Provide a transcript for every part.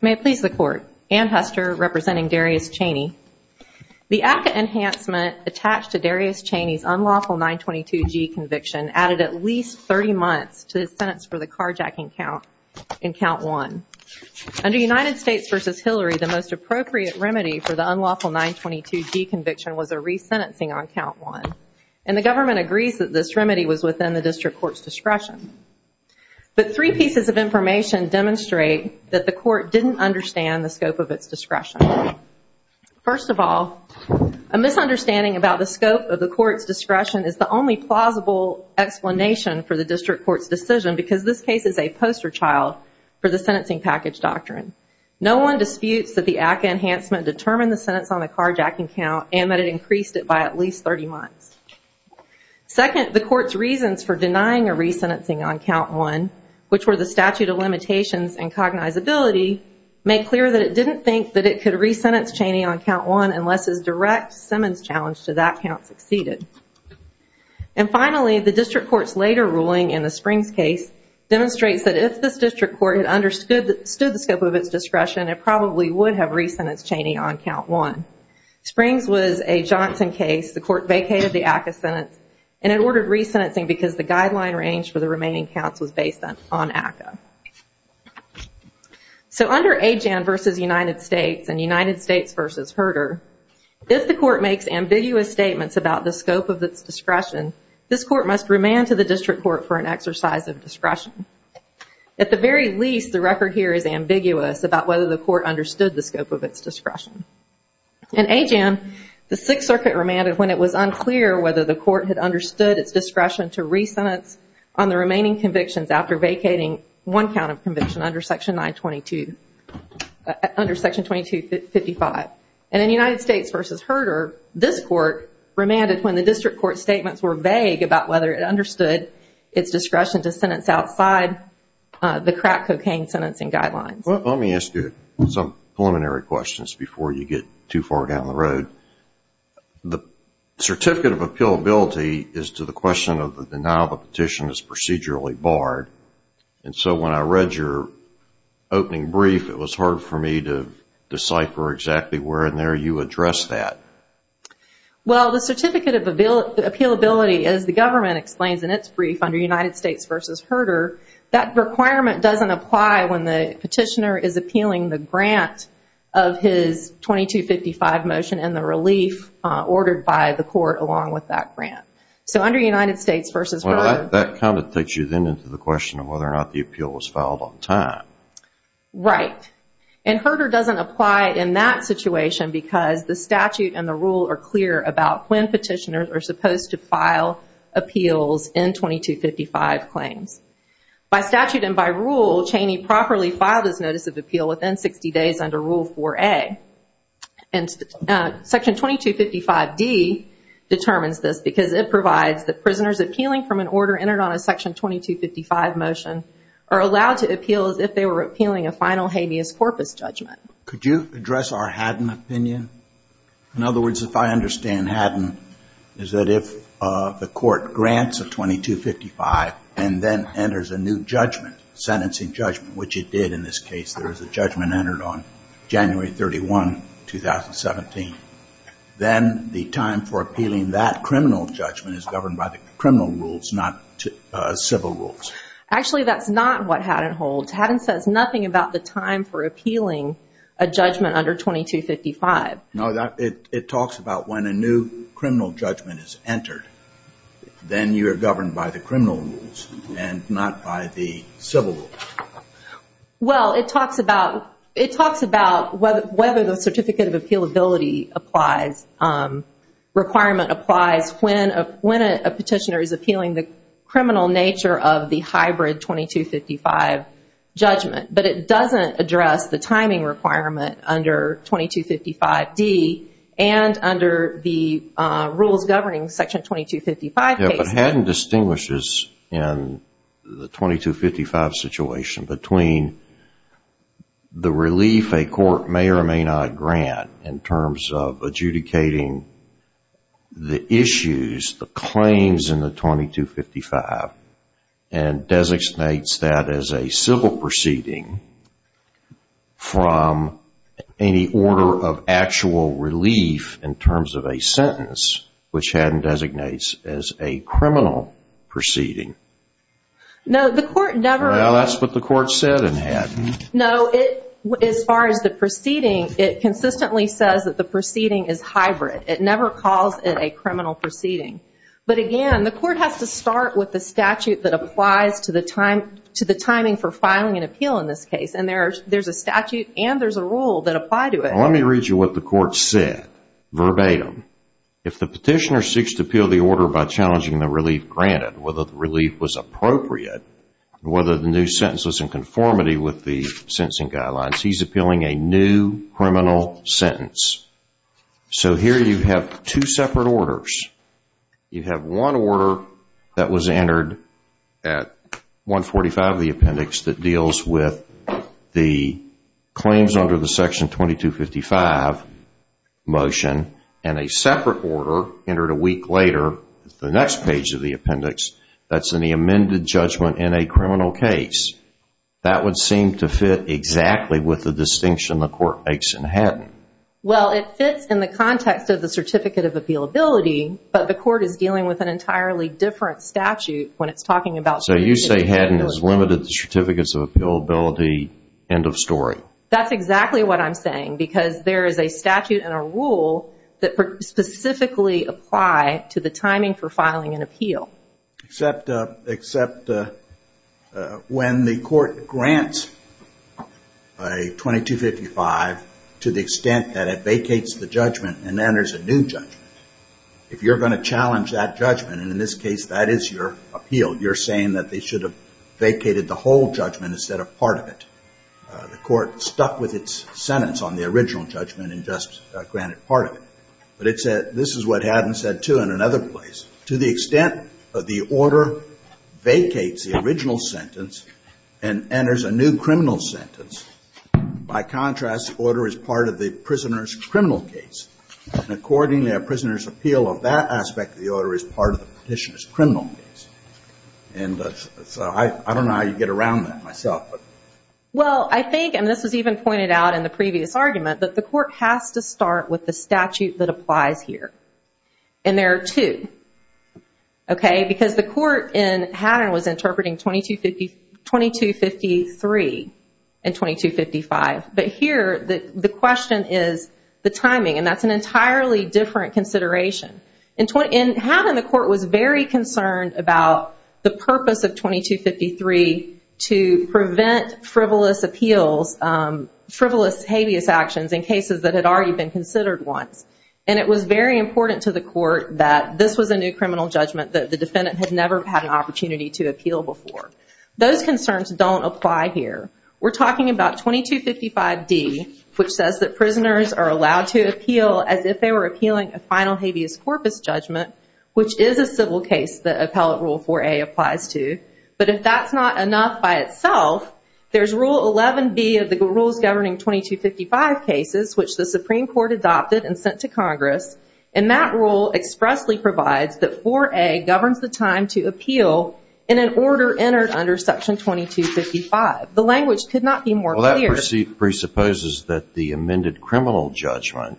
May it please the Court, Anne Huster, representing Darius Chaney. The ACCA enhancement attached to Darius Chaney's unlawful 922G conviction added at least 30 months to his sentence for the carjacking count in Count 1. Under United States v. Hillary, the most appropriate remedy for the unlawful 922G conviction was a re-sentencing on Count 1, and the government agrees that this remedy was within the district court's discretion. But three pieces of information demonstrate that the court didn't understand the scope of its discretion. First of all, a misunderstanding about the scope of the court's discretion is the only plausible explanation for the district court's decision because this case is a poster child for the sentencing package doctrine. No one disputes that the ACCA enhancement determined the sentence on the count, but the reasons for denying a re-sentencing on Count 1, which were the statute of limitations and cognizability, make clear that it didn't think that it could re-sentence Chaney on Count 1 unless his direct Simmons challenge to that count succeeded. And finally, the district court's later ruling in the Springs case demonstrates that if this district court understood the scope of its discretion, it probably would have re-sentenced Chaney on Count 1. Springs was a Johnson case. The court vacated the ACCA sentence, and it ordered re-sentencing because the guideline range for the remaining counts was based on ACCA. So under Ajan v. United States and United States v. Herder, if the court makes ambiguous statements about the scope of its discretion, this court must remand to the district court for an exercise of discretion. At the very least, the record here is ambiguous about whether the court understood the scope of its discretion. In Ajan, the Sixth Circuit remanded when it was unclear whether the court had understood its discretion to re-sentence on the remaining convictions after vacating one count of conviction under Section 922, under Section 2255. And in United States v. Herder, this court remanded when the district court's statements were vague about whether it understood its discretion to sentence outside the crack cocaine sentencing guidelines. Let me ask you some preliminary questions before you get too far down the road. The Certificate of Appealability is to the question of the denial of a petition as procedurally barred. And so when I read your opening brief, it was hard for me to decipher exactly where in there you addressed that. Well, the Certificate of Appealability, as the government explains in its brief under United States v. Herder, that requirement doesn't apply when the petitioner is appealing the grant of his 2255 motion and the relief ordered by the court along with that grant. So under United States v. Herder... Well, that kind of takes you then into the question of whether or not the appeal was filed on time. Right. And Herder doesn't apply in that situation because the statute and the rule are clear about when petitioners are supposed to file appeals in 2255 claims. By statute and by rule, Cheney properly filed his notice of appeal within 60 days under Rule 4A. Section 2255D determines this because it provides that prisoners were appealing a final habeas corpus judgment. Could you address our Haddon opinion? In other words, if I understand Haddon, is that if the court grants a 2255 and then enters a new judgment, sentencing judgment, which it did in this case. There was a judgment entered on January 31, 2017. Then the time for appealing that criminal judgment is governed by the criminal rules, not civil rules. Actually, that's not what Haddon holds. Haddon says nothing about the time for appealing a judgment under 2255. It talks about when a new criminal judgment is entered. Then you are governed by the criminal rules and not by the civil rules. Well, it talks about whether the certificate of appealability requirement applies when a petitioner is appealing the criminal nature of the hybrid 2255 judgment. But it doesn't address the timing requirement under 2255D and under the rules governing Section 2255 cases. Haddon distinguishes in the 2255 situation between the relief a court may or may not grant in terms of adjudicating the issues, the claims in the 2255 and designates that as a civil proceeding from any order of actual relief in terms of a sentence, which Haddon designates as a criminal proceeding. No, as far as the proceeding, it consistently says that the proceeding is hybrid. It never calls it a criminal proceeding. But again, the court has to start with the statute that applies to the timing for filing an appeal in this case. There's a statute and there's a rule that apply to it. Let me read you what the court said verbatim. If the petitioner seeks to appeal the order by challenging the relief granted, whether the relief was appropriate, whether the new sentence was in conformity with the sentencing guidelines, he's appealing a new criminal sentence. So here you have two separate orders. You have one order that was entered at 145 of the 2255 motion and a separate order entered a week later the next page of the appendix that's in the amended judgment in a criminal case. That would seem to fit exactly with the distinction the court makes in Haddon. Well, it fits in the context of the certificate of appealability, but the court is dealing with an entirely different statute when it's talking about... So you say Haddon has limited the certificates of appealability, end of story. That's exactly what I'm saying because there is a statute and a rule that specifically apply to the timing for filing an appeal. Except when the court grants a 2255 to the extent that it vacates the judgment and enters a new judgment. If you're going to challenge that whole judgment instead of part of it. The court stuck with its sentence on the original judgment and just granted part of it. But this is what Haddon said too in another place. To the extent that the order vacates the original sentence and enters a new criminal sentence, by contrast, the order is part of the prisoner's criminal case. And accordingly, a prisoner's appeal of that aspect of the order is part of the petitioner's criminal case. I don't know how you get around that myself. Well, I think, and this was even pointed out in the previous argument, that the court has to start with the statute that applies here. And there are two. Because the court in Haddon was interpreting 2253 and 2255. But here, the question is the timing. And that's an entirely different consideration. Haddon, the court was very concerned about the purpose of 2253 to prevent frivolous appeals, frivolous habeas actions in cases that had already been considered once. And it was very important to the court that this was a new criminal judgment that the defendant had never had an opportunity to appeal before. Those concerns don't apply here. We're talking about 2255D, which says that prisoners are allowed to appeal as if they were appealing a final habeas corpus judgment, which is a civil case that Appellate Rule 4A applies to. But if that's not enough by itself, there's Rule 11B of the Rules Governing 2255 cases, which the Supreme Court adopted and sent to Congress. And that rule expressly provides that 4A governs the time to appeal in an order entered under Section 2255. The language could not be more clear. Well, that presupposes that the amended criminal judgment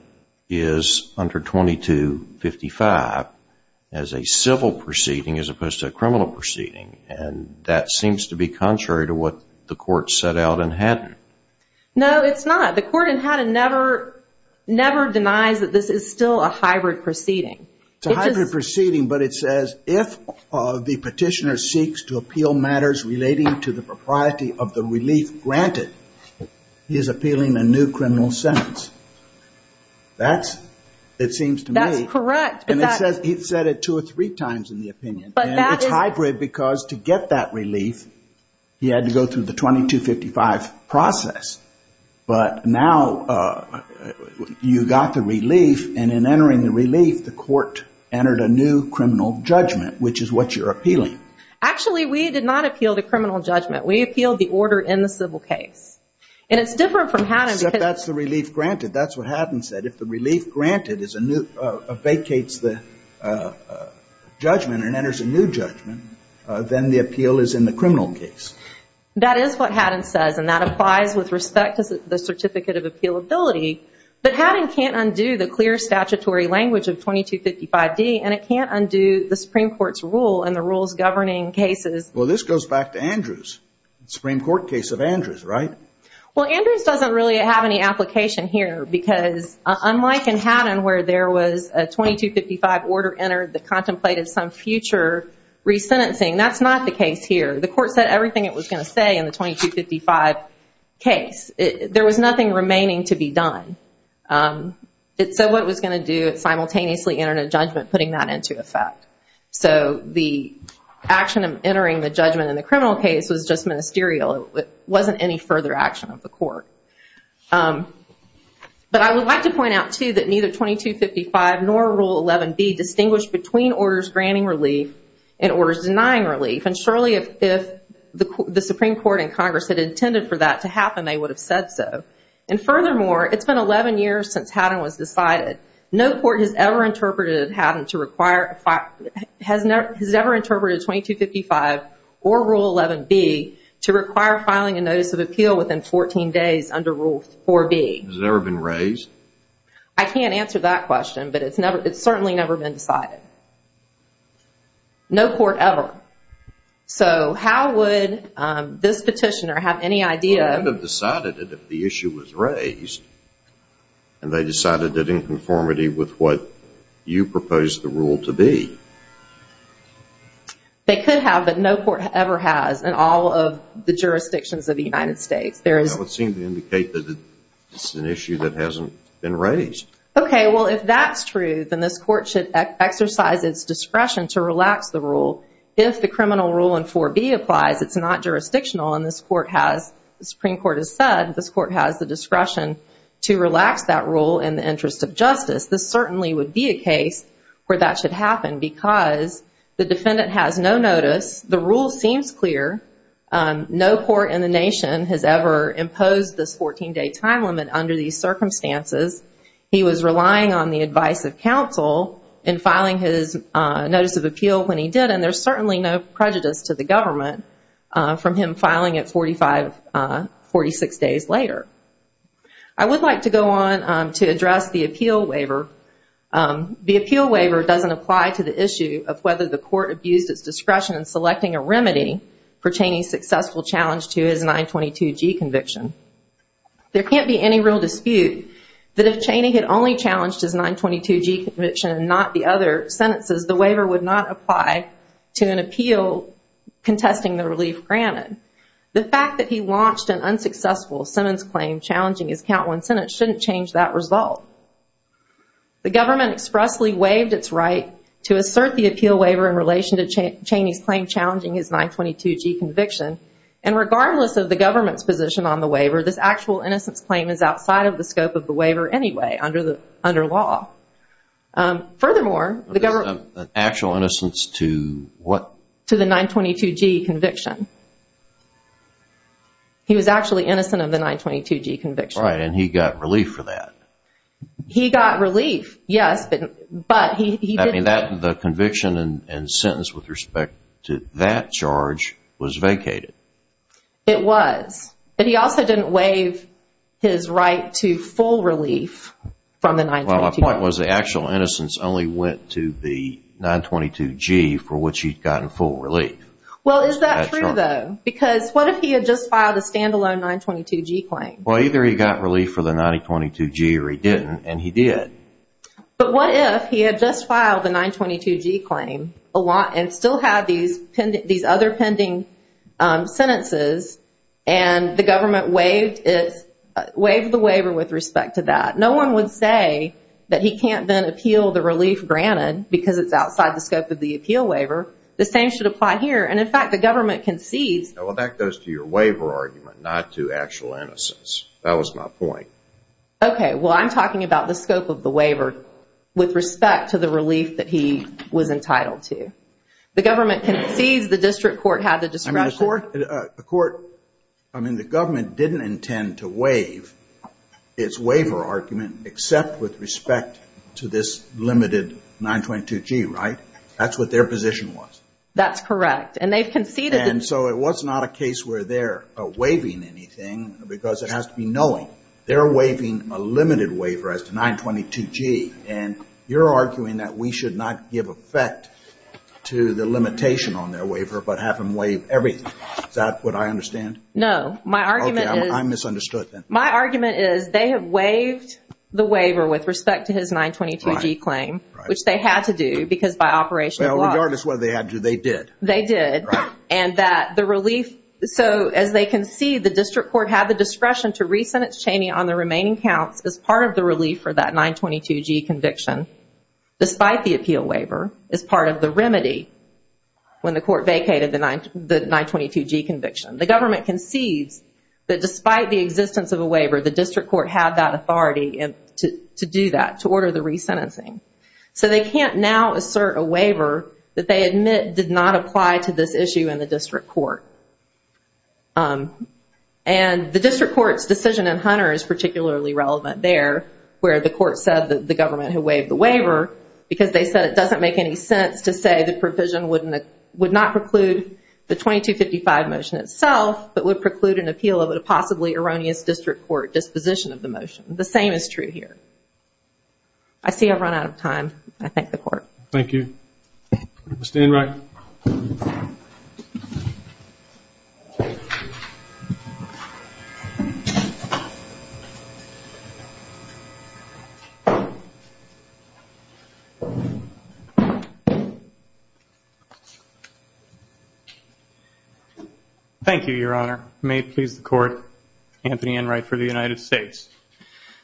is under 2255 as a civil proceeding as opposed to a criminal proceeding. And that seems to be contrary to what the court set out in Haddon. No, it's not. The court in Haddon never denies that this is still a hybrid proceeding. It's a hybrid proceeding, but it says, if the petitioner seeks to appeal matters relating to the propriety of the relief granted, he is appealing a new criminal sentence. That's, it seems to me. That's correct. And it said it two or three times in the opinion. And it's hybrid because to get that relief, he had to go through the 2255 process. But now you got the relief, and in entering the relief, the court entered a new criminal judgment, which is what you're appealing. Actually, we did not appeal the criminal judgment. We appealed the order in the civil case. And it's different from Haddon. Except that's the relief granted. That's what Haddon said. If the relief granted vacates the judgment and enters a new judgment, then the appeal is in the criminal case. That is what Haddon says, and that applies with respect to the certificate of appealability. But Haddon can't undo the clear statutory language of 2255D, and it can't undo the Supreme Court's rule and the rules governing cases. Well, this goes back to Andrews. Supreme Court case of Andrews, right? Well, Andrews doesn't really have any application here because unlike in Haddon where there was a 2255 order entered that contemplated some future resentencing, that's not the case here. The court said everything it was going to say in the 2255 case. There was nothing remaining to be done. It said what it was going to do. It simultaneously entered a judgment putting that into effect. So the action of entering the judgment in the criminal case was just ministerial. It wasn't any further action of the 2255 nor Rule 11B distinguished between orders granting relief and orders denying relief. And surely if the Supreme Court in Congress had intended for that to happen, they would have said so. And furthermore, it's been 11 years since Haddon was decided. No court has ever interpreted Haddon to require, has never interpreted 2255 or Rule 11B to require filing a notice of appeal within 14 days under Rule 4B. Has it ever been raised? I can't answer that question, but it's certainly never been decided. No court ever. So how would this petitioner have any idea? Well, they would have decided it if the issue was raised and they decided it in conformity with what you proposed the rule to be. They could have, but no court would advocate that it's an issue that hasn't been raised. Okay. Well, if that's true, then this court should exercise its discretion to relax the rule. If the criminal rule in 4B applies, it's not jurisdictional and this court has, the Supreme Court has said, this court has the discretion to relax that rule in the interest of justice. This certainly would be a case where that should happen because the defendant has no notice. The rule seems clear. No court in the nation has ever imposed this 14 day time limit under these circumstances. He was relying on the advice of counsel in filing his notice of appeal when he did, and there's certainly no prejudice to the government from him filing it 45, 46 days later. I would like to go on to address the appeal waiver. The appeal waiver doesn't apply to the issue of whether the court abused its discretion in selecting a remedy for Chaney's successful challenge to his 922G conviction. There can't be any real dispute that if Chaney had only challenged his 922G conviction and not the other sentences, the waiver would not apply to an appeal contesting the relief granted. The fact that he launched an appeal, the government expressly waived its right to assert the appeal waiver in relation to Chaney's claim challenging his 922G conviction, and regardless of the government's position on the waiver, this actual innocence claim is outside of the scope of the waiver anyway under law. Furthermore, the government... An actual innocence to what? To the 922G conviction. He was actually granted relief, yes, but he didn't... I mean, the conviction and sentence with respect to that charge was vacated. It was. But he also didn't waive his right to full relief from the 922G. Well, my point was the actual innocence only went to the 922G for which he'd gotten full relief. Well, is that true, though? Because what if he had just filed a 922G claim and still had these other pending sentences and the government waived the waiver with respect to that? No one would say that he can't then appeal the relief granted because it's outside the scope of the appeal waiver. The same should apply here, and in fact, the government concedes... Well, that goes to your waiver argument, not to actual innocence. That was my point. Okay, well, I'm talking about the scope of the waiver with respect to the relief that he was entitled to. The government concedes the district court had the discretion... I mean, the court... I mean, the government didn't intend to waive its waiver argument except with respect to this limited 922G, right? That's what their position was. That's correct, and they've conceded... And so it was not a case where they're waiving anything because it has to be knowing. They're waiving a limited waiver as to 922G, and you're arguing that we should not give effect to the limitation on their waiver but have them waive everything. Is that what I understand? No, my argument is... Okay, I misunderstood then. My argument is they have waived the waiver with respect to his 922G claim, which they had to do because by operation law... Well, regardless of whether they had to, they did. They did, and that the relief... So as they concede, the district court had the discretion to re-sentence Cheney on the remaining counts as part of the relief for that 922G conviction despite the appeal waiver as part of the remedy when the court vacated the 922G conviction. The government concedes that despite the existence of a waiver, the district court had that authority to do that, to order the re-sentencing. So they can't now assert a waiver that they admit did not apply to this issue in the district court. And the district court's decision in Hunter is particularly relevant there where the court said that the government had waived the waiver because they said it doesn't make any sense to say the provision would not preclude the 2255 motion itself but would preclude an appeal of a possibly erroneous district court disposition of the motion. The same is true here. I see I've run out of time. I thank the court. Thank you. Mr. Enright. Thank you, Your Honor. May it please the court. Anthony Enright for the United States.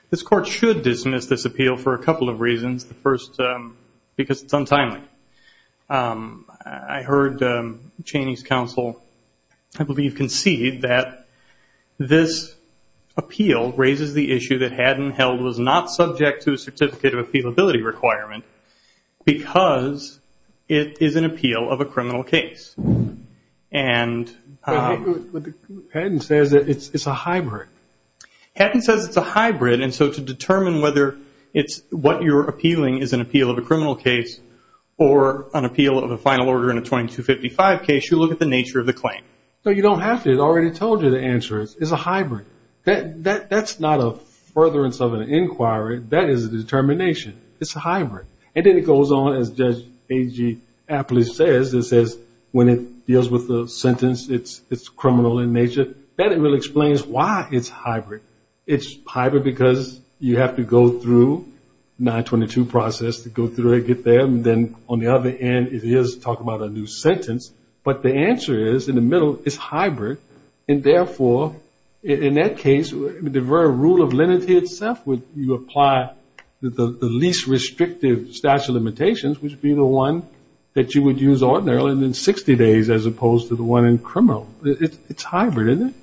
This court should dismiss this appeal for a couple of reasons. The first, because it's untimely. I heard Cheney's counsel I believe concede that this appeal raises the issue that Haddon Held was not subject to a certificate of appealability requirement because it is an appeal of a criminal case. Haddon says it's a hybrid. Haddon says it's a hybrid and so to determine whether what you're appealing is an appeal of a criminal case or an appeal of a final order in a 2255 case, you look at the nature of the claim. No, you don't have to. I already told you the answer is it's a hybrid. That's not a furtherance of an inquiry. That is a determination. It's a hybrid. And then it goes on, as Judge A.G. Apley says, when it deals with the sentence, it's criminal in nature. Then it really explains why it's hybrid. It's hybrid because you have to go through 922 process to go through it, get there, and then on the other end it is talking about a new sentence. But the answer is, in the middle, it's hybrid. And therefore, in that case, the very rule of lenity itself, you apply the least restrictive statute of limitations, which would be the one that you would use ordinarily in 60 days as opposed to the one in criminal. It's hybrid, isn't it?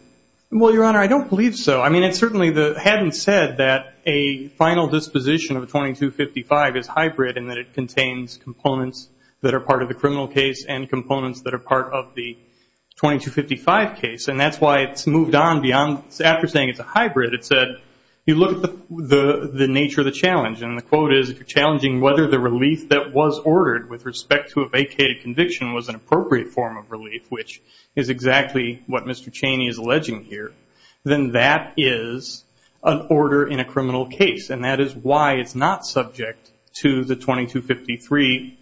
Well, Your Honor, I don't believe so. Haddon said that a final disposition of 2255 is part of the 2255 case. And that's why it's moved on after saying it's a hybrid. It said, you look at the nature of the challenge. And the quote is, if you're challenging whether the relief that was ordered with respect to a vacated conviction was an appropriate form of relief, which is exactly what Mr. Cheney is alleging here, then that is an order in a criminal case. And that is why it's not subject to the 2253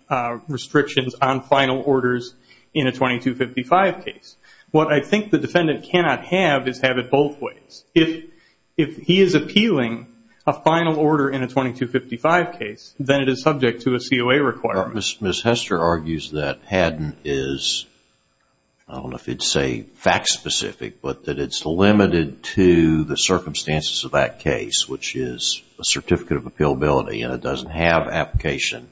restrictions on final orders in a 2255 case. What I think the defendant cannot have is have it both ways. If he is appealing a final order in a 2255 case, then it is subject to a COA requirement. Ms. Hester argues that Haddon is, I don't know if it's a fact-specific, but that it's limited to the circumstances of that case, which is a certificate of appealability and it doesn't have application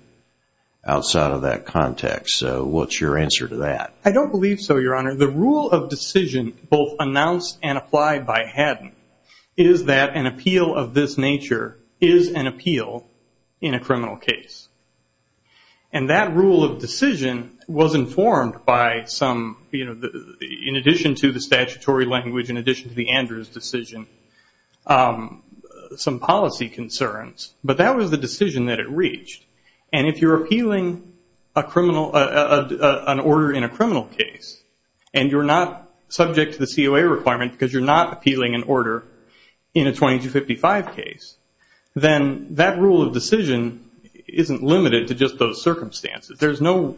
outside of that context. So what's your answer to that? I don't believe so, Your Honor. The rule of decision both announced and applied by Haddon is that an appeal of this nature is an appeal in a criminal case. And that rule of decision was informed by some, in addition to the statutory language, in addition to the Andrews decision, some policy concerns. But that was the decision that it reached. And if you're appealing an order in a criminal case and you're not subject to the COA requirement because you're not appealing an order in a 2255 case, then that rule of decision isn't limited to just those circumstances. There's no order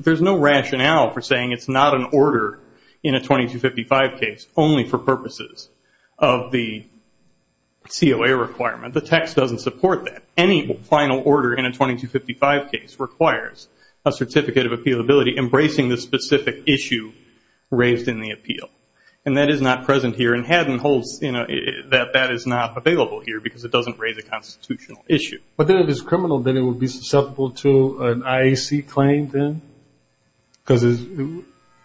in a 2255 case only for purposes of the COA requirement. The text doesn't support that. Any final order in a 2255 case requires a certificate of appealability embracing the specific issue raised in the appeal. And that is not present here. And Haddon holds that that is not available here because it doesn't raise a constitutional issue. But then if it's criminal, then it would be declaimed then because it's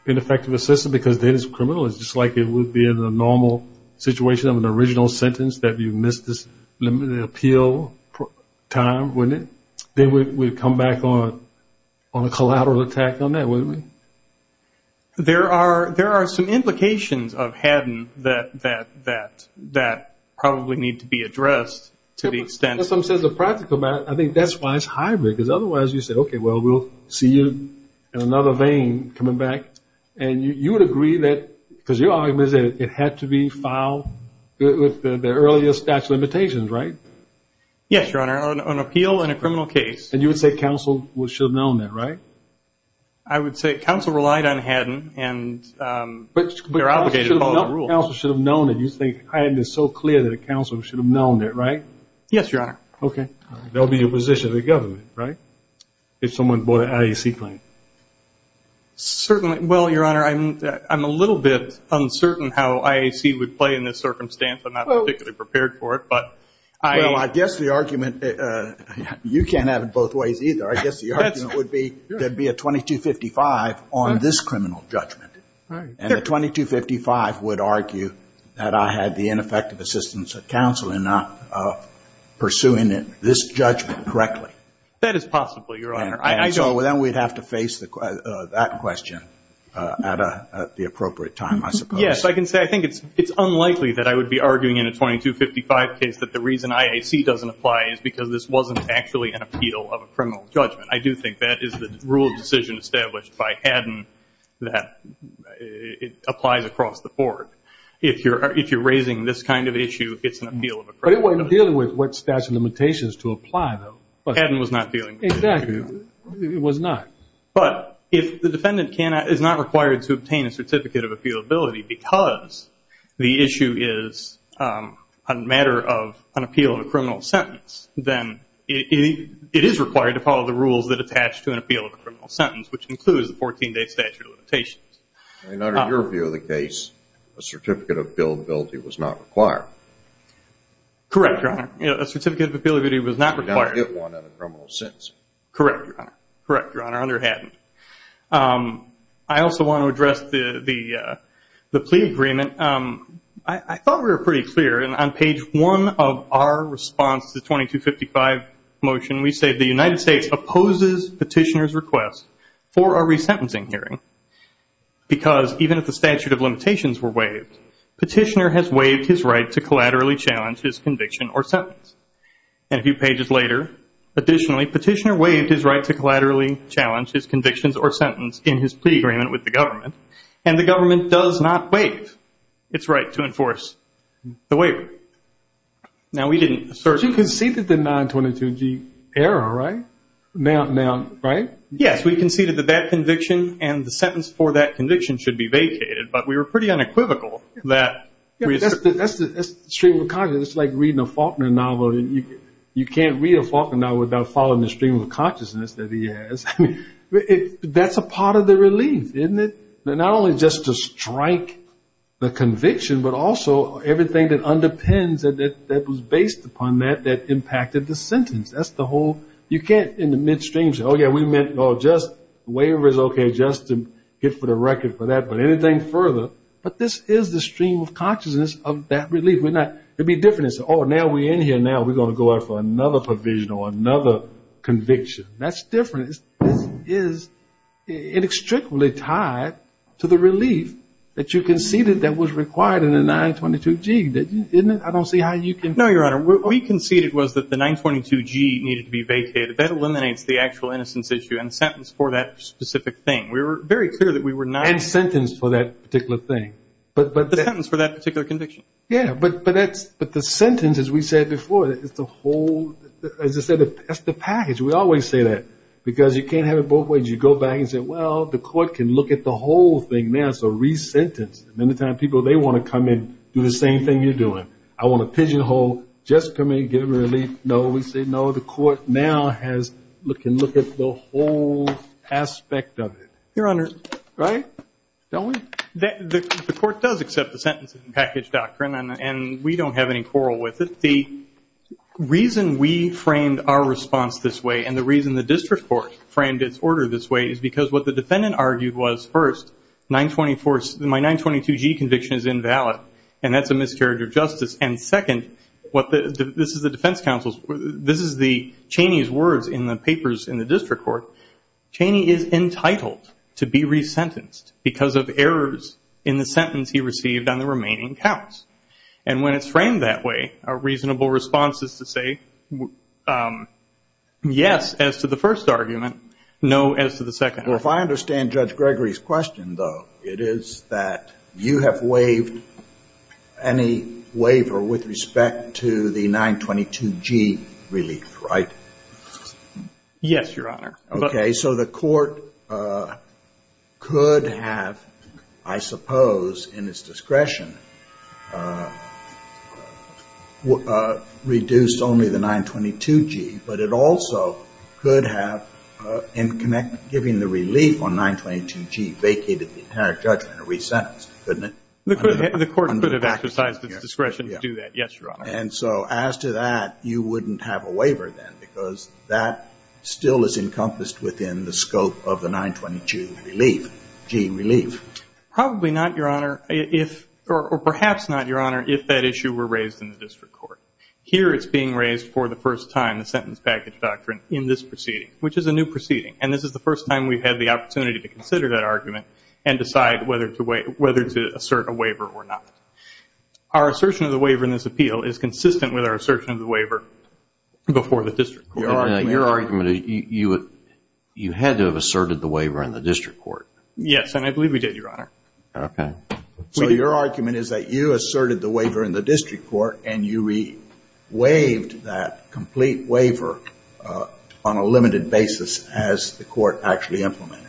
ineffective assistance because then it's criminal. It's just like it would be in the normal situation of an original sentence that you missed this appeal time, wouldn't it? Then we'd come back on a collateral attack on that, wouldn't we? There are some implications to the extent... We'll see you in another vein coming back. And you would agree that because your argument is that it had to be filed with the earliest statute of limitations, right? Yes, Your Honor. An appeal in a criminal case. And you would say counsel should have known that, right? I would say counsel relied on Haddon and they're obligated to follow the rules. But counsel should have known that you think Haddon is so clear that a counsel should have known it, right? Yes, Your Honor. Okay. There would be a position of the government, right? If someone brought an IAC claim. Certainly. Well, Your Honor, I'm a little bit uncertain how IAC would play in this circumstance. I'm not particularly prepared for it, but I... Well, I guess the argument... You can't have it both ways either. I guess the argument would be there'd be a 2255 on this criminal judgment. And the 2255 would argue that I had the ineffective assistance of counsel in not pursuing this judgment correctly. That is possible, Your Honor. And so then we'd have to face that question at the appropriate time, I suppose. Yes, I can say I think it's unlikely that I would be arguing in a 2255 case that the reason IAC doesn't apply is because this wasn't actually an appeal of a criminal judgment. I do think that is the rule of decision established by Haddon that it applies across the board. If you're raising this kind of issue, it's an appeal of a criminal judgment. But it wasn't dealing with what statute of limitations to apply, though. Haddon was not dealing with it. Exactly. It was not. But if the defendant is not required to obtain a certificate of appealability because the issue is a matter of an appeal of a criminal sentence, then it is required to follow the rules that attach to an appeal of a criminal sentence, which includes the 14-day statute of limitations. And under your view of the case, a certificate of appealability was not required. Correct, Your Honor. A certificate of appealability was not required. You did not get one on a criminal sentence. Correct, Your Honor. Correct, Your Honor. I also want to address the plea agreement. I thought we were pretty clear. On page 1 of our response to the 2255 motion, we say the United States opposes Petitioner's request for a resentencing hearing because even if the statute of limitations were waived, Petitioner has waived his right to collaterally challenge his convictions or sentence in his plea agreement with the government. And the government does not waive its right to enforce the waiver. Now, we didn't assert... You conceded the 922G error, right? Yes, we conceded that that conviction and the sentence for that conviction should be vacated, but we were pretty unequivocal that... That's the stream of consciousness that he has. That's a part of the relief, isn't it? Not only just to strike the conviction, but also everything that underpins it, that was based upon that, that impacted the sentence. That's the whole... You can't, in the midstream, say, oh yeah, we meant just... The waiver is okay just to get for the record for that, but anything further... But this is the stream of consciousness of that relief. It'd be different to say, oh, now we're in here, now we're going to go out for another provisional, another conviction. That's different. This is inextricably tied to the relief that you conceded that was required in the 922G, didn't it? I don't see how you can... No, Your Honor. What we conceded was that the 922G needed to be vacated. That eliminates the actual innocence issue and sentence for that specific thing. We were very clear that we were not... But the sentence, as we said before, it's the whole... As I said, it's the package. We always say that, because you can't have it both ways. You go back and say, well, the court can look at the whole thing now, so re-sentence. Many times, people, they want to come in, do the same thing you're doing. I want a pigeonhole, just come in, get a relief. No, we say no, the court now can look at the whole aspect of it. Your Honor. The court does accept the sentencing package doctrine, and we don't have any quarrel with it. The reason we framed our response this way, and the reason the district court framed its order this way, is because what the defendant argued was, first, my 922G conviction is invalid, and that's a miscarriage of justice. Second, this is the defense counsel's... This is the defendant entitled to be re-sentenced because of errors in the sentence he received on the remaining counts. And when it's framed that way, a reasonable response is to say yes as to the first argument, no as to the second. Well, if I understand Judge Gregory's question, though, it is that you have waived any waiver with respect to the 922G relief, right? Yes, Your Honor. Okay, so the court could have, I suppose, in its discretion, reduced only the 922G, but it also could have, in giving the relief on 922G, vacated the entire judgment and re-sentenced, couldn't it? The court could have exercised its discretion to do that. Yes, Your Honor. And so as to that, you wouldn't have a waiver then, because that still is encompassed within the scope of the 922G relief. Probably not, Your Honor, or perhaps not, Your Honor, if that issue were raised in the district court. Here it's being raised for the first time, the sentence package doctrine, in this proceeding, which is a new proceeding. And this is the first time we've had the opportunity to consider that argument and decide whether to assert a waiver or not. Our assertion of the waiver in this appeal is consistent with our assertion of the waiver before the district court. Your argument is you had to have asserted the waiver in the district court. Yes, and I believe we did, Your Honor. Okay. So your argument is that you asserted the waiver in the district court and you re-waived that complete waiver on a limited basis as the court actually implemented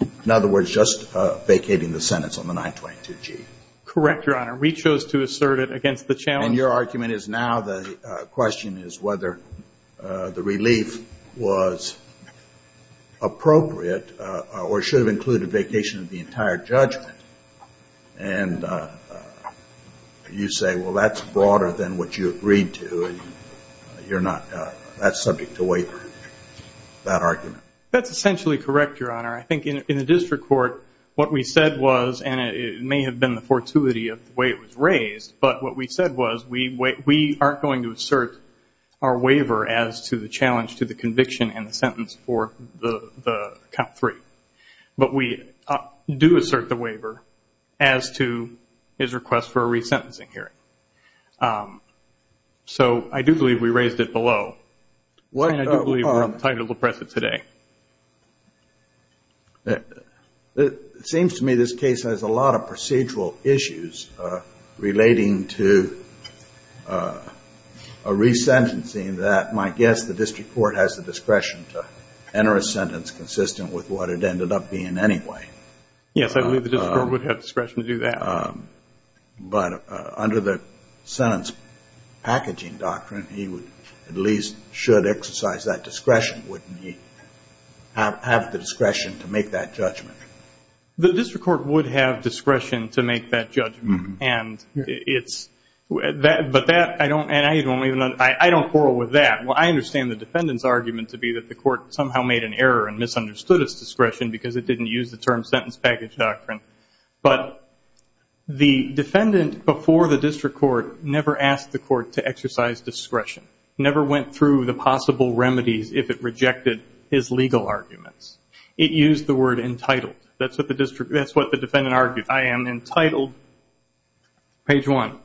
it. In other words, just vacating the sentence on the 922G. Correct, Your Honor. We chose to assert it against the challenge. And your argument is now the question is whether the relief was appropriate or should have included vacation of the entire judgment. And you say, well, that's essentially correct, Your Honor. I think in the district court, what we said was, and it may have been the fortuity of the way it was raised, but what we said was we aren't going to assert our waiver as to the challenge to the conviction and the sentence for the count three. But we do assert the waiver as to his request for a resentencing hearing. So I do believe we raised it below. And I do believe we're entitled to press it today. It seems to me this case has a lot of procedural issues relating to a resentencing that, my guess, the district court has the discretion to enter a sentence consistent with what it ended up being anyway. Yes, I believe the district court would have discretion to do that. But under the sentence packaging doctrine, he at least should exercise that discretion, wouldn't he? Have the discretion to make that judgment. The district court would have discretion to make that judgment. But that, I don't, I don't quarrel with that. I understand the defendant's discretion because it didn't use the term sentence package doctrine. But the defendant before the district court never asked the court to exercise discretion. Never went through the possible remedies if it rejected his legal arguments. It used the word entitled. That's what the defendant argued. I am entitled. Page one.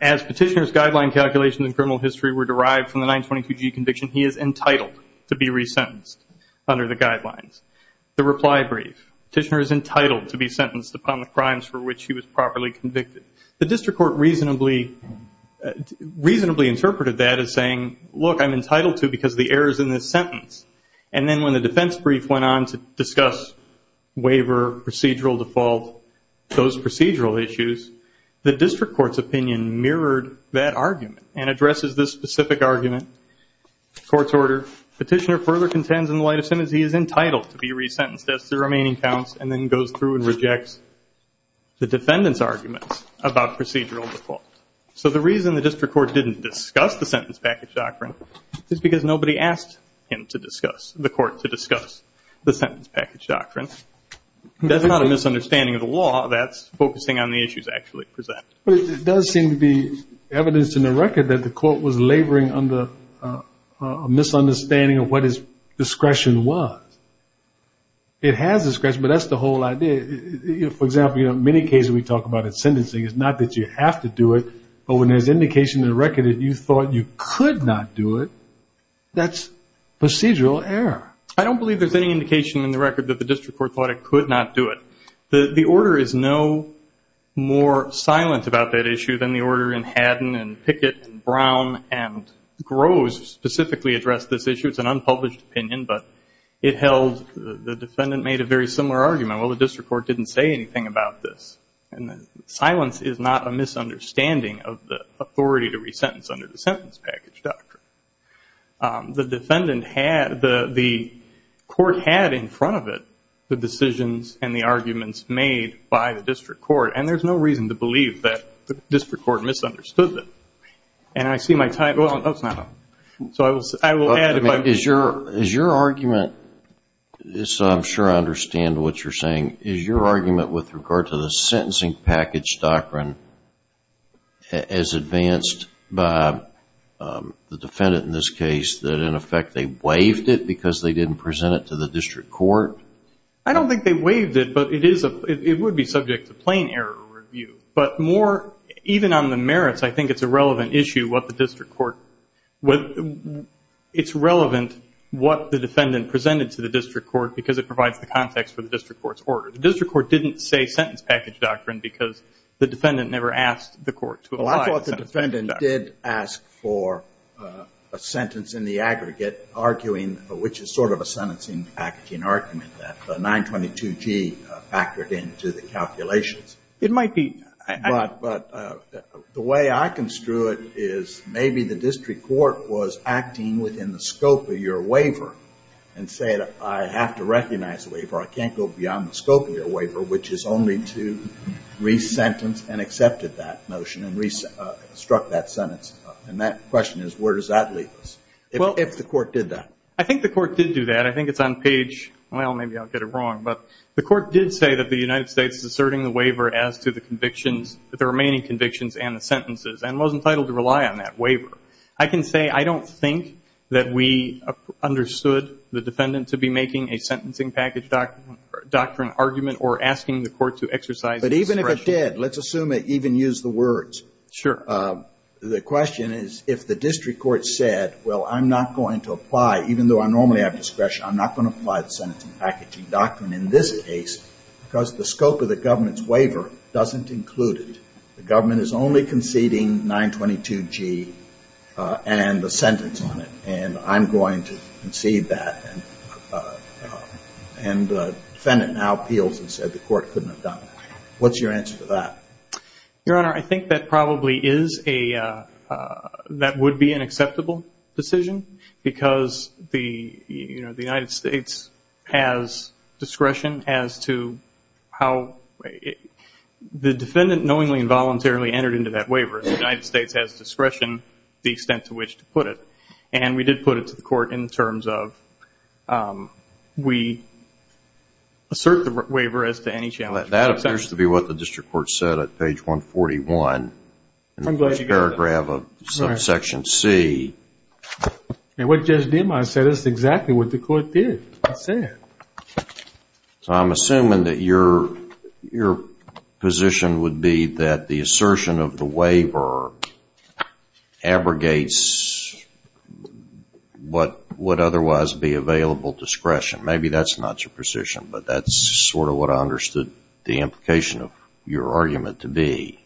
As petitioner's guideline calculations in criminal history were derived from the 922G conviction, he is entitled to be resentenced under the guidelines. The reply brief. Petitioner is entitled to be sentenced upon the crimes for which he was properly convicted. The district court reasonably interpreted that as saying, look, I'm entitled to because of the errors in this sentence. And then when the defense brief went on to discuss waiver, procedural default, those addresses this specific argument, court's order. Petitioner further contends in the light of sentence he is entitled to be resentenced as to the remaining counts and then goes through and rejects the defendant's arguments about procedural default. So the reason the district court didn't discuss the sentence package doctrine is because nobody asked him to discuss, the court to discuss the sentence package doctrine. That's not a misunderstanding of the law. That's focusing on the issues actually presented. But it does seem to be evidence in the record that the court was laboring under a misunderstanding of what his discretion was. It has discretion, but that's the whole idea. For example, in many cases we talk about it's sentencing. It's not that you have to do it, but when there's indication in the record that you thought you could not do it, that's procedural error. I don't believe there's any indication in the record that the district court thought it could not do it. The order is no more silent about that issue than the order in Haddon and Pickett and Brown and Groves specifically addressed this issue. It's an unpublished opinion, but it held the defendant made a very similar argument. Well, the district court didn't say anything about this. And silence is not a misunderstanding of the authority to resentence under the sentence package doctrine. The defendant had, the court had in front of it the decisions and the arguments made by the district court. And there's no reason to believe that the district court misunderstood them. Is your argument, so I'm sure I understand what you're saying, is your argument with regard to the sentencing package doctrine as advanced by the defendant in this case that in effect they waived it because they didn't present it to the district court? I don't think they waived it, but it would be subject to plain error review. But more, even on the merits, I think it's a relevant issue what the district court it's relevant what the defendant presented to the district court because it provides the context for the district court's order. The district court didn't say sentence package doctrine because the defendant never asked the court to apply the sentence package doctrine. Well, I thought the defendant did ask for a sentence in the aggregate arguing, which is sort of a sentencing packaging argument that the 922G factored into the calculations. It might be. But the way I construe it is maybe the district court was acting within the scope of your waiver and said I have to recognize the waiver. I can't go beyond the scope of your waiver, which is only to resentence and accepted that notion and struck that sentence. And that question is where does that leave us if the court did that? I think the court did do that. I think it's on page well, maybe I'll get it wrong. But the court did say that the United States is asserting the waiver as to the I can say I don't think that we understood the defendant to be making a sentencing package doctrine argument or asking the court to exercise discretion. But even if it did, let's assume it even used the words. Sure. The question is if the district court said, well, I'm not going to apply, even though I normally have discretion, I'm not going to apply the sentencing packaging doctrine in this case because the scope of the government's waiver doesn't include it. The government is only conceding 922G and the sentence on it. And I'm going to concede that. And the defendant now appeals and said the court couldn't have done that. What's your answer to that? Your Honor, I think that probably is a, that would be an acceptable decision because the United States has discretion as to how the defendant knowingly and voluntarily entered into that waiver. The United States has discretion the extent to which to put it. And we did put it to the court in terms of we assert the waiver as to any challenge. That appears to be what the district court said at page 141 in the first paragraph of section C. And what Judge DeMar said is exactly what the court did. It said. So I'm assuming that your position would be that the assertion of the waiver abrogates what would otherwise be available discretion. Maybe that's not your position, but that's sort of what I understood the implication of your argument to be.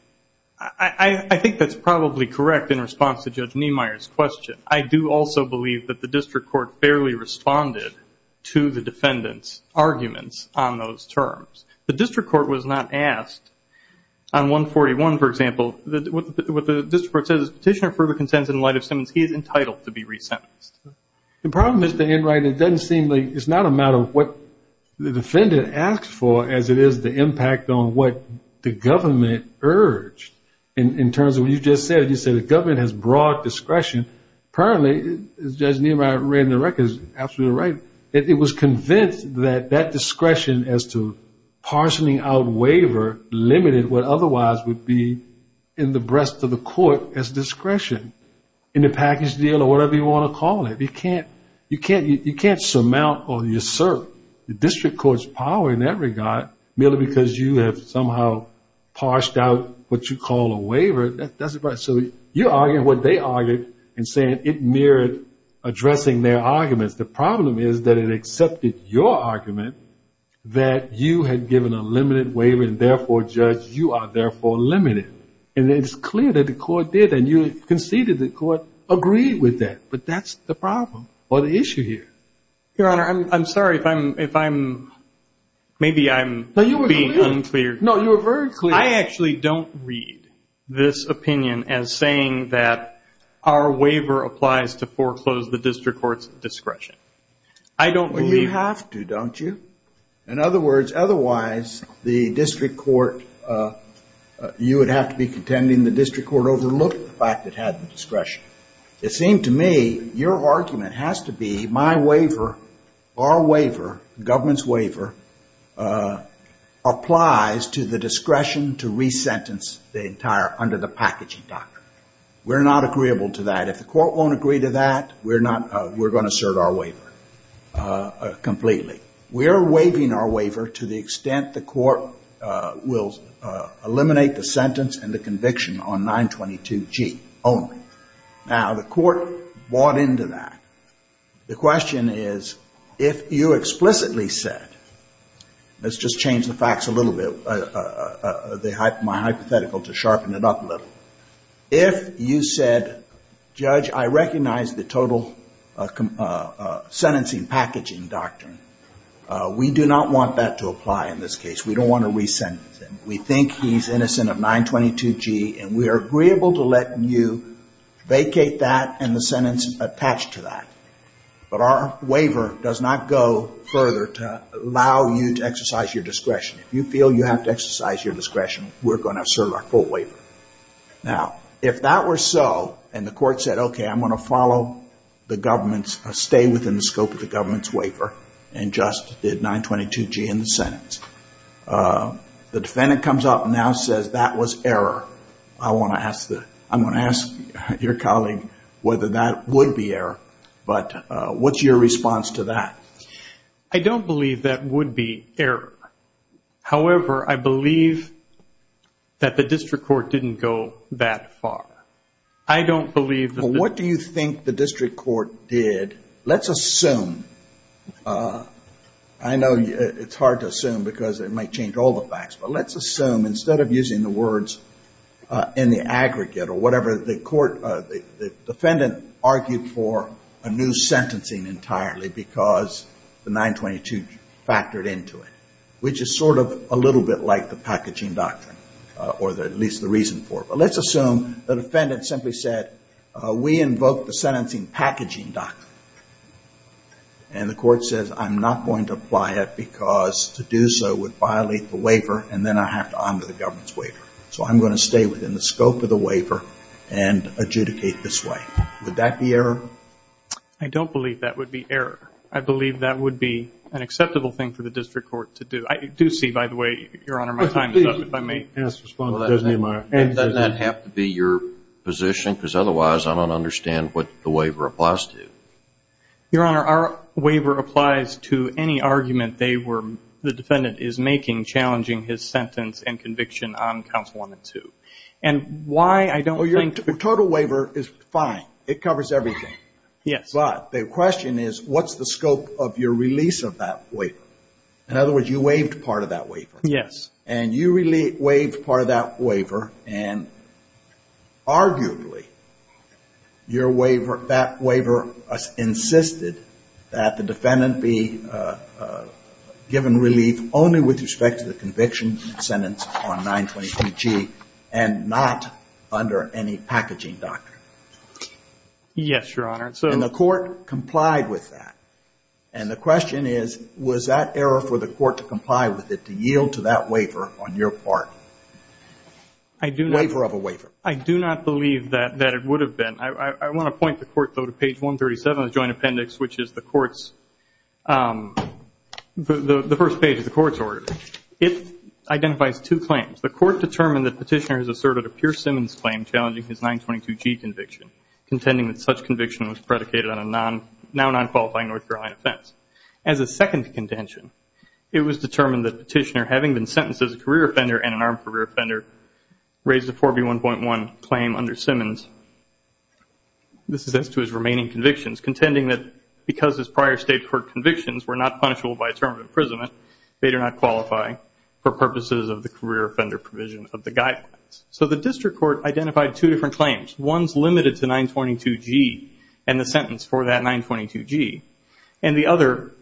I think that's probably correct in response to Judge Niemeyer's question. I do also believe that the district court fairly responded to the defendant's arguments on those terms. The district court was not asked on 141, for example, what the district court says is petitioner further consents in light of sentence, he is entitled to be resentenced. The problem Mr. Enright, it doesn't seem like it's not a matter of what the defendant asked for as it is the impact on what the government urged. In terms of what you just said, you said the government has broad discretion. Apparently, as Judge Niemeyer read in the records, absolutely right. It was convinced that that discretion as to parsing out waiver limited what otherwise would be in the breast of the court as discretion in the package deal or whatever you want to call it. You can't surmount or usurp the district court's power in that regard merely because you have somehow parsed out what you call a waiver. You're arguing what they argued and saying it mirrored addressing their arguments. The problem is that it accepted your argument that you had given a limited waiver and therefore, Judge, you are therefore limited. And it's clear that the court did and you conceded the court agreed with that. But that's the problem or the issue here. Your Honor, I'm sorry if I'm, maybe I'm being unclear. No, you were very clear. I actually don't read this opinion as saying that our waiver applies to foreclose the district court's discretion. Well, you have to, don't you? In other words, otherwise the district court, you would have to be contending the district court overlooked the fact it had the discretion. It seemed to me your argument has to be my waiver, our waiver, government's waiver, applies to the discretion to resentence the entire, under the packaging doctrine. We're not agreeable to that. If the court won't agree to that, we're going to assert our waiver completely. We are waiving our waiver to the extent the court will eliminate the sentence and the conviction on 922G only. Now, the court bought into that. The question is if you explicitly said, let's just change the facts a little bit, my hypothetical to sharpen it up a little. If you said, Judge, I recognize the total sentencing packaging doctrine. We do not want that to apply in this case. We don't want to resentence him. We think he's innocent of 922G and we are agreeable to letting you vacate that and the sentence attached to that. But our waiver does not go further to allow you to exercise your discretion. If you feel you have to exercise your discretion, we're going to assert our full waiver. Now, if that were so and the court said, okay, I'm going to follow the government's, stay within the scope of the government's waiver and just did 922G in the sentence. The defendant comes up and now says that was error. I want to ask your colleague whether that would be error, but what's your response to that? I don't believe that would be error. However, I believe that the district court didn't go that far. What do you think the district court did? Let's assume, I know it's hard to assume because it might change all the facts, but let's assume instead of using the words in the aggregate or whatever, the defendant argued for a new sentencing entirely because the 922 factored into it, which is sort of a little bit like the packaging doctrine, or at least the reason for it. But let's assume the defendant simply said we invoke the sentencing packaging doctrine. And the court says I'm not going to apply it because to do so would violate the waiver and then I have to honor the government's waiver. So I'm going to stay within the scope of the waiver and adjudicate this way. Would that be error? I don't believe that would be error. I believe that would be an acceptable thing for the district court to do. I do see, by the way, Your Honor, my time is up. Does that have to be your position? Because otherwise I don't understand what the waiver applies to. Your Honor, our waiver applies to any argument the defendant is making challenging his sentence and conviction on Council 1 and 2. And why I don't think... Well, your total waiver is fine. It covers everything. Yes. But the question is what's the scope of your release of that waiver? In other words, you waived part of that waiver. Yes. And you your waiver, that waiver insisted that the defendant be given relief only with respect to the conviction and sentence on 923G and not under any packaging doctrine. Yes, Your Honor. And the court complied with that. And the question is was that error for the court to comply with it, to yield to that waiver on your part? Waiver of a waiver. I do not believe that it would have been. I want to point the court, though, to page 137 of the Joint Appendix, which is the court's the first page of the court's order. It identifies two claims. The court determined that Petitioner has asserted a Pierce-Simmons claim challenging his 922G conviction, contending that such conviction was predicated on a now non-qualifying North Carolina offense. As a second contention, it was determined that Petitioner, having been sentenced as a career offender and an armed career offender, raised a 4B1.1 claim under Simmons. This is as to his remaining convictions, contending that because his prior state court convictions were not punishable by a term of imprisonment, they do not qualify for purposes of the career offender provision of the guidelines. So the district court identified two different claims. One's limited to 922G and the sentence for that 922G, and the other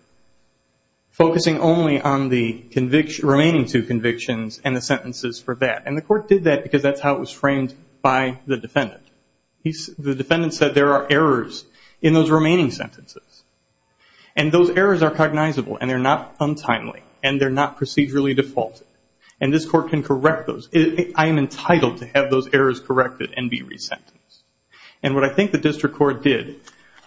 focusing only on the remaining two convictions and the sentences for that. The court did that because that's how it was framed by the defendant. The defendant said there are errors in those remaining sentences. Those errors are cognizable and they're not untimely and they're not procedurally defaulted. This court can correct those. I am entitled to have those errors corrected and be resentenced. And what I think the district court did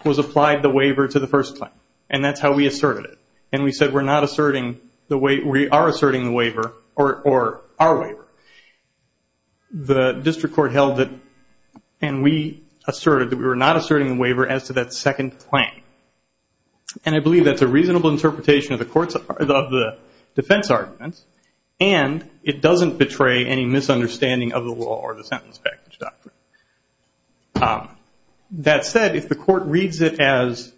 was applied the waiver to the first claim. And that's how we asserted it. And we said we are asserting the waiver, or our waiver. The district court held that, and we asserted that we were not asserting the waiver as to that second claim. And I believe that's a reasonable interpretation of the defense arguments, and it doesn't betray any misunderstanding of the law or the sentence package doctrine. That said, if the court reads it as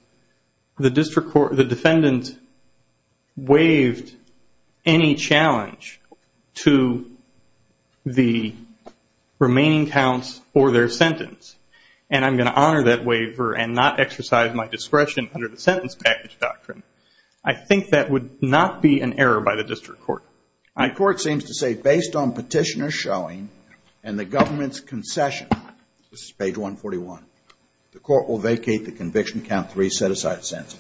the defendant waived any challenge to the remaining counts for their sentence, and I'm going to honor that statement, I think that would not be an error by the district court. The court seems to say based on petitioner showing and the government's concession, this is page 141, the court will vacate the conviction count 3 set-aside sentence.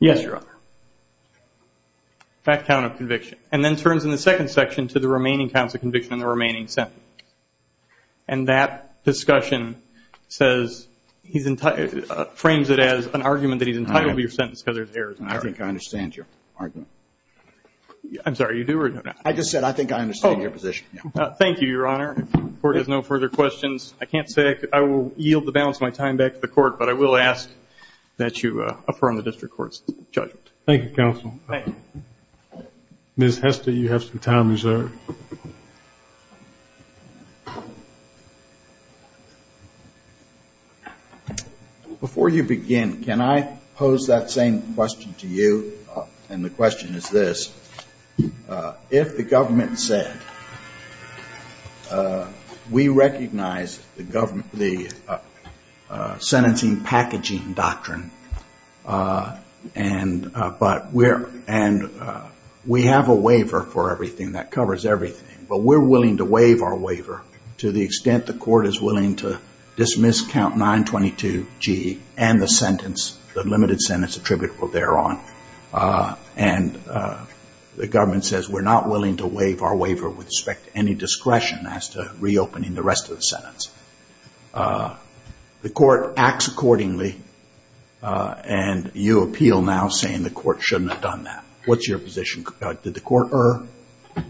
Yes, Your Honor. That count of conviction. And then turns in the second section to the remaining counts of conviction in the remaining sentence. And that discussion says, frames it as an argument that he's entitled to your sentence because there's errors in it. I think I understand your argument. I'm sorry, you do? I just said I think I understand your position. Thank you, Your Honor. If the court has no further questions, I can't say I will yield the balance of my time back to the court, but I will ask that you affirm the district court's judgment. Thank you, Counsel. Ms. Hester, you have some time reserved. Before you begin, can I pose that same question to you? And the question is this. If the government said, we recognize the government, the sentencing and the packaging doctrine, and we have a waiver for everything that covers everything, but we're willing to waive our waiver to the extent the court is willing to dismiss count 922G and the sentence, the limited sentence attributable thereon. And the government says we're not willing to waive our waiver with respect to any discretion as to reopening the rest of the sentence. The court acts accordingly and you appeal now saying the court shouldn't have done that. What's your position? Did the court err?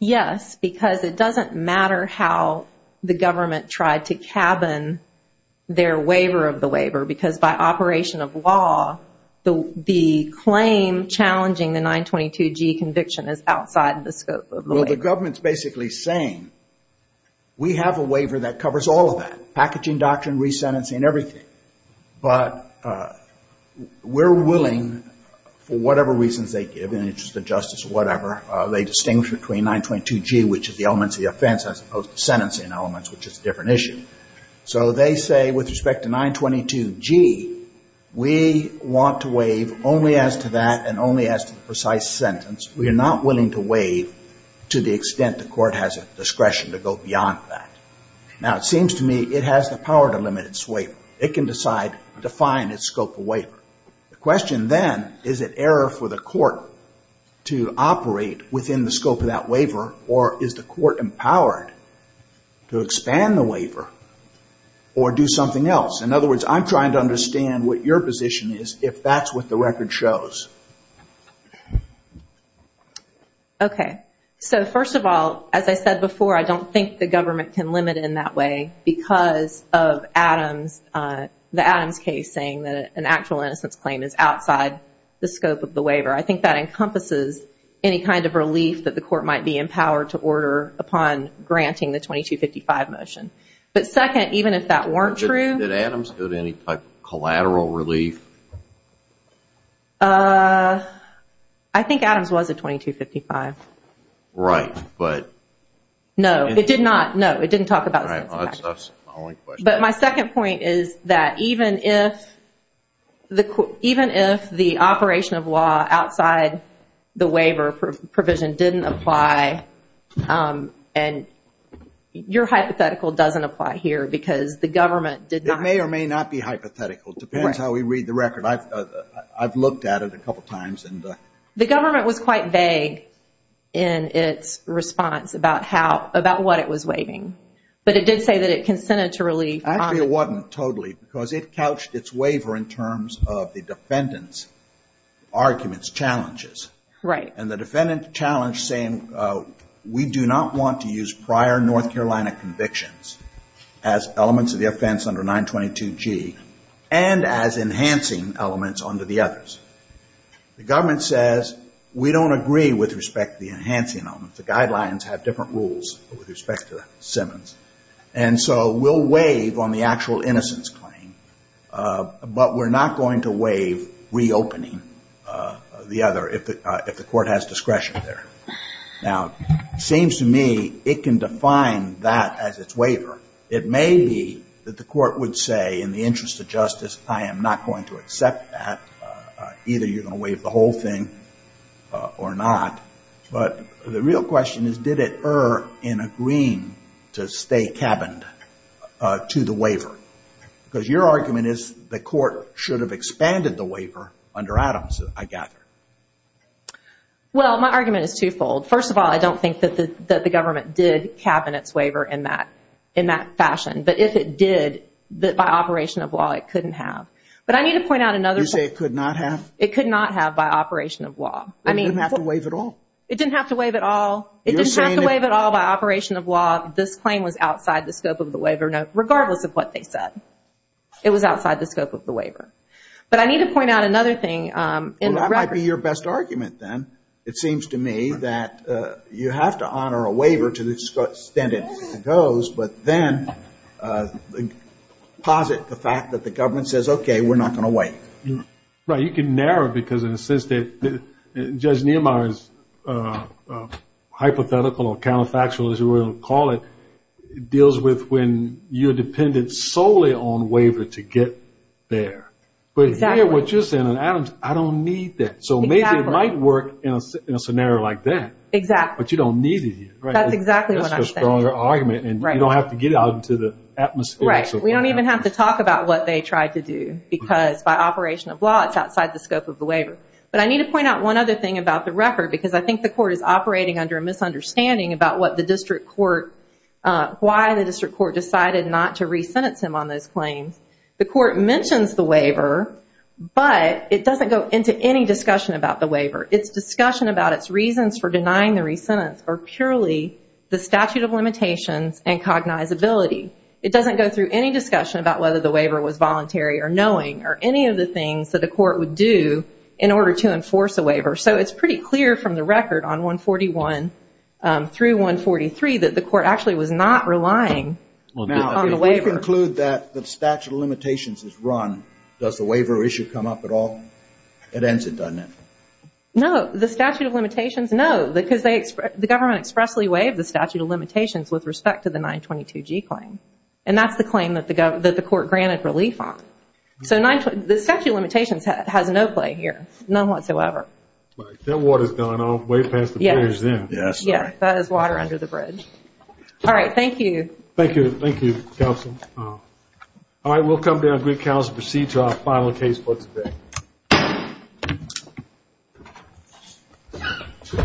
Yes, because it doesn't matter how the government tried to cabin their waiver of the waiver because by operation of law, the claim challenging the 922G conviction is outside the scope of the waiver. We have a waiver that covers all of that, packaging doctrine, resentencing, everything. But we're willing, for whatever reasons they give, in the interest of justice or whatever, they distinguish between 922G, which is the elements of the offense, as opposed to sentencing elements, which is a different issue. So they say with respect to 922G, we want to waive only as to that and only as to the precise sentence. We are not willing to waive to the extent the court has a discretion to go beyond that. Now, it seems to me it has the power to limit its waiver. It can decide to define its scope of waiver. The question then, is it error for the court to operate within the scope of that waiver or is the court empowered to expand the waiver or do something else? In other words, I'm trying to understand what your position is if that's what the record shows. Okay. So first of all, as I said before, I don't think the government can limit it in that way because of the Adams case saying that an actual innocence claim is outside the scope of the waiver. I think that encompasses any kind of relief that the court might be empowered to order upon granting the 2255 motion. But second, even if that weren't true... Did Adams go to any type of collateral relief? I think Adams was a 2255. Right, but... No, it did not. No, it didn't talk about the sentence. But my second point is that even if the operation of law outside the waiver provision didn't apply and your hypothetical doesn't apply here because the government did not... It may or may not be hypothetical. It depends how we read the record. I've looked at it a couple of times. The government was quite vague in its response about what it was waiving. But it did say that it consented to relief. Actually, it wasn't totally because it couched its waiver in terms of the defendant's arguments, challenges. And the defendant challenged saying we do not want to use prior North Carolina convictions as elements of the offense under 922G and as enhancing elements under the others. The government says we don't agree with respect to the enhancing elements. The guidelines have different rules with respect to Simmons. And so we'll waive on the actual innocence claim. But we're not going to waive reopening the other if the court has discretion there. Now, it seems to me it can define that as its waiver. It may be that the court would say in the interest of justice I am not going to accept that. Either you're going to waive the whole thing or not. But the real question is did it err in agreeing to stay cabined to the waiver? Because your argument is the court should have expanded the waiver under Adams, I gather. Well, my argument is twofold. First of all, I don't think that the government did cabin its waiver in that fashion. But if it did, by operation of law it couldn't have. You say it could not have? It could not have by operation of law. It didn't have to waive it all? It didn't have to waive it all. It didn't have to waive it all by operation of law. This claim was outside the scope of the waiver, regardless of what they said. It was outside the scope of the waiver. But I need to point out another thing. That might be your best argument then. It seems to me that you have to honor a waiver to the extent it goes, but then posit the fact that the government says, okay, we're not going to waive. Right, you can narrow it because in the sense that Judge Niemeyer's hypothetical or counterfactual as you will call it, deals with when you're dependent solely on waiver to get there. But here what you're saying on Adams, I don't need that. So maybe it might work in a scenario like that, but you don't need it here. That's exactly what I'm saying. That's a stronger argument and you don't have to get out into the atmosphere. We don't even have to talk about what they tried to do because by operation of law it's outside the scope of the waiver. But I need to point out one other thing about the record because I think the court is operating under a misunderstanding about what the district court, why the district court decided not to re-sentence him on those claims. The court mentions the waiver, but it doesn't go into any discussion about the waiver. Its discussion about its reasons for denying the re-sentence are purely the statute of limitations and cognizability. It doesn't go through any discussion about whether the waiver was voluntary or knowing or any of the things that a court would do in order to enforce a waiver. So it's pretty clear from the record on 141 through 143 that the court actually was not relying on the waiver. Now, if we conclude that the statute of limitations is run, does the waiver issue come up at all? It ends it, doesn't it? No. The statute of limitations, no. Because the government expressly waived the statute of limitations with respect to the 922G claim. And that's the claim that the court granted relief on. So the statute of limitations has no play here. None whatsoever. That water is going on way past the bridge there. Yes, that is water under the bridge. All right. Thank you. Thank you. Thank you, counsel. All right. We'll come down to the council and proceed to our final case for today.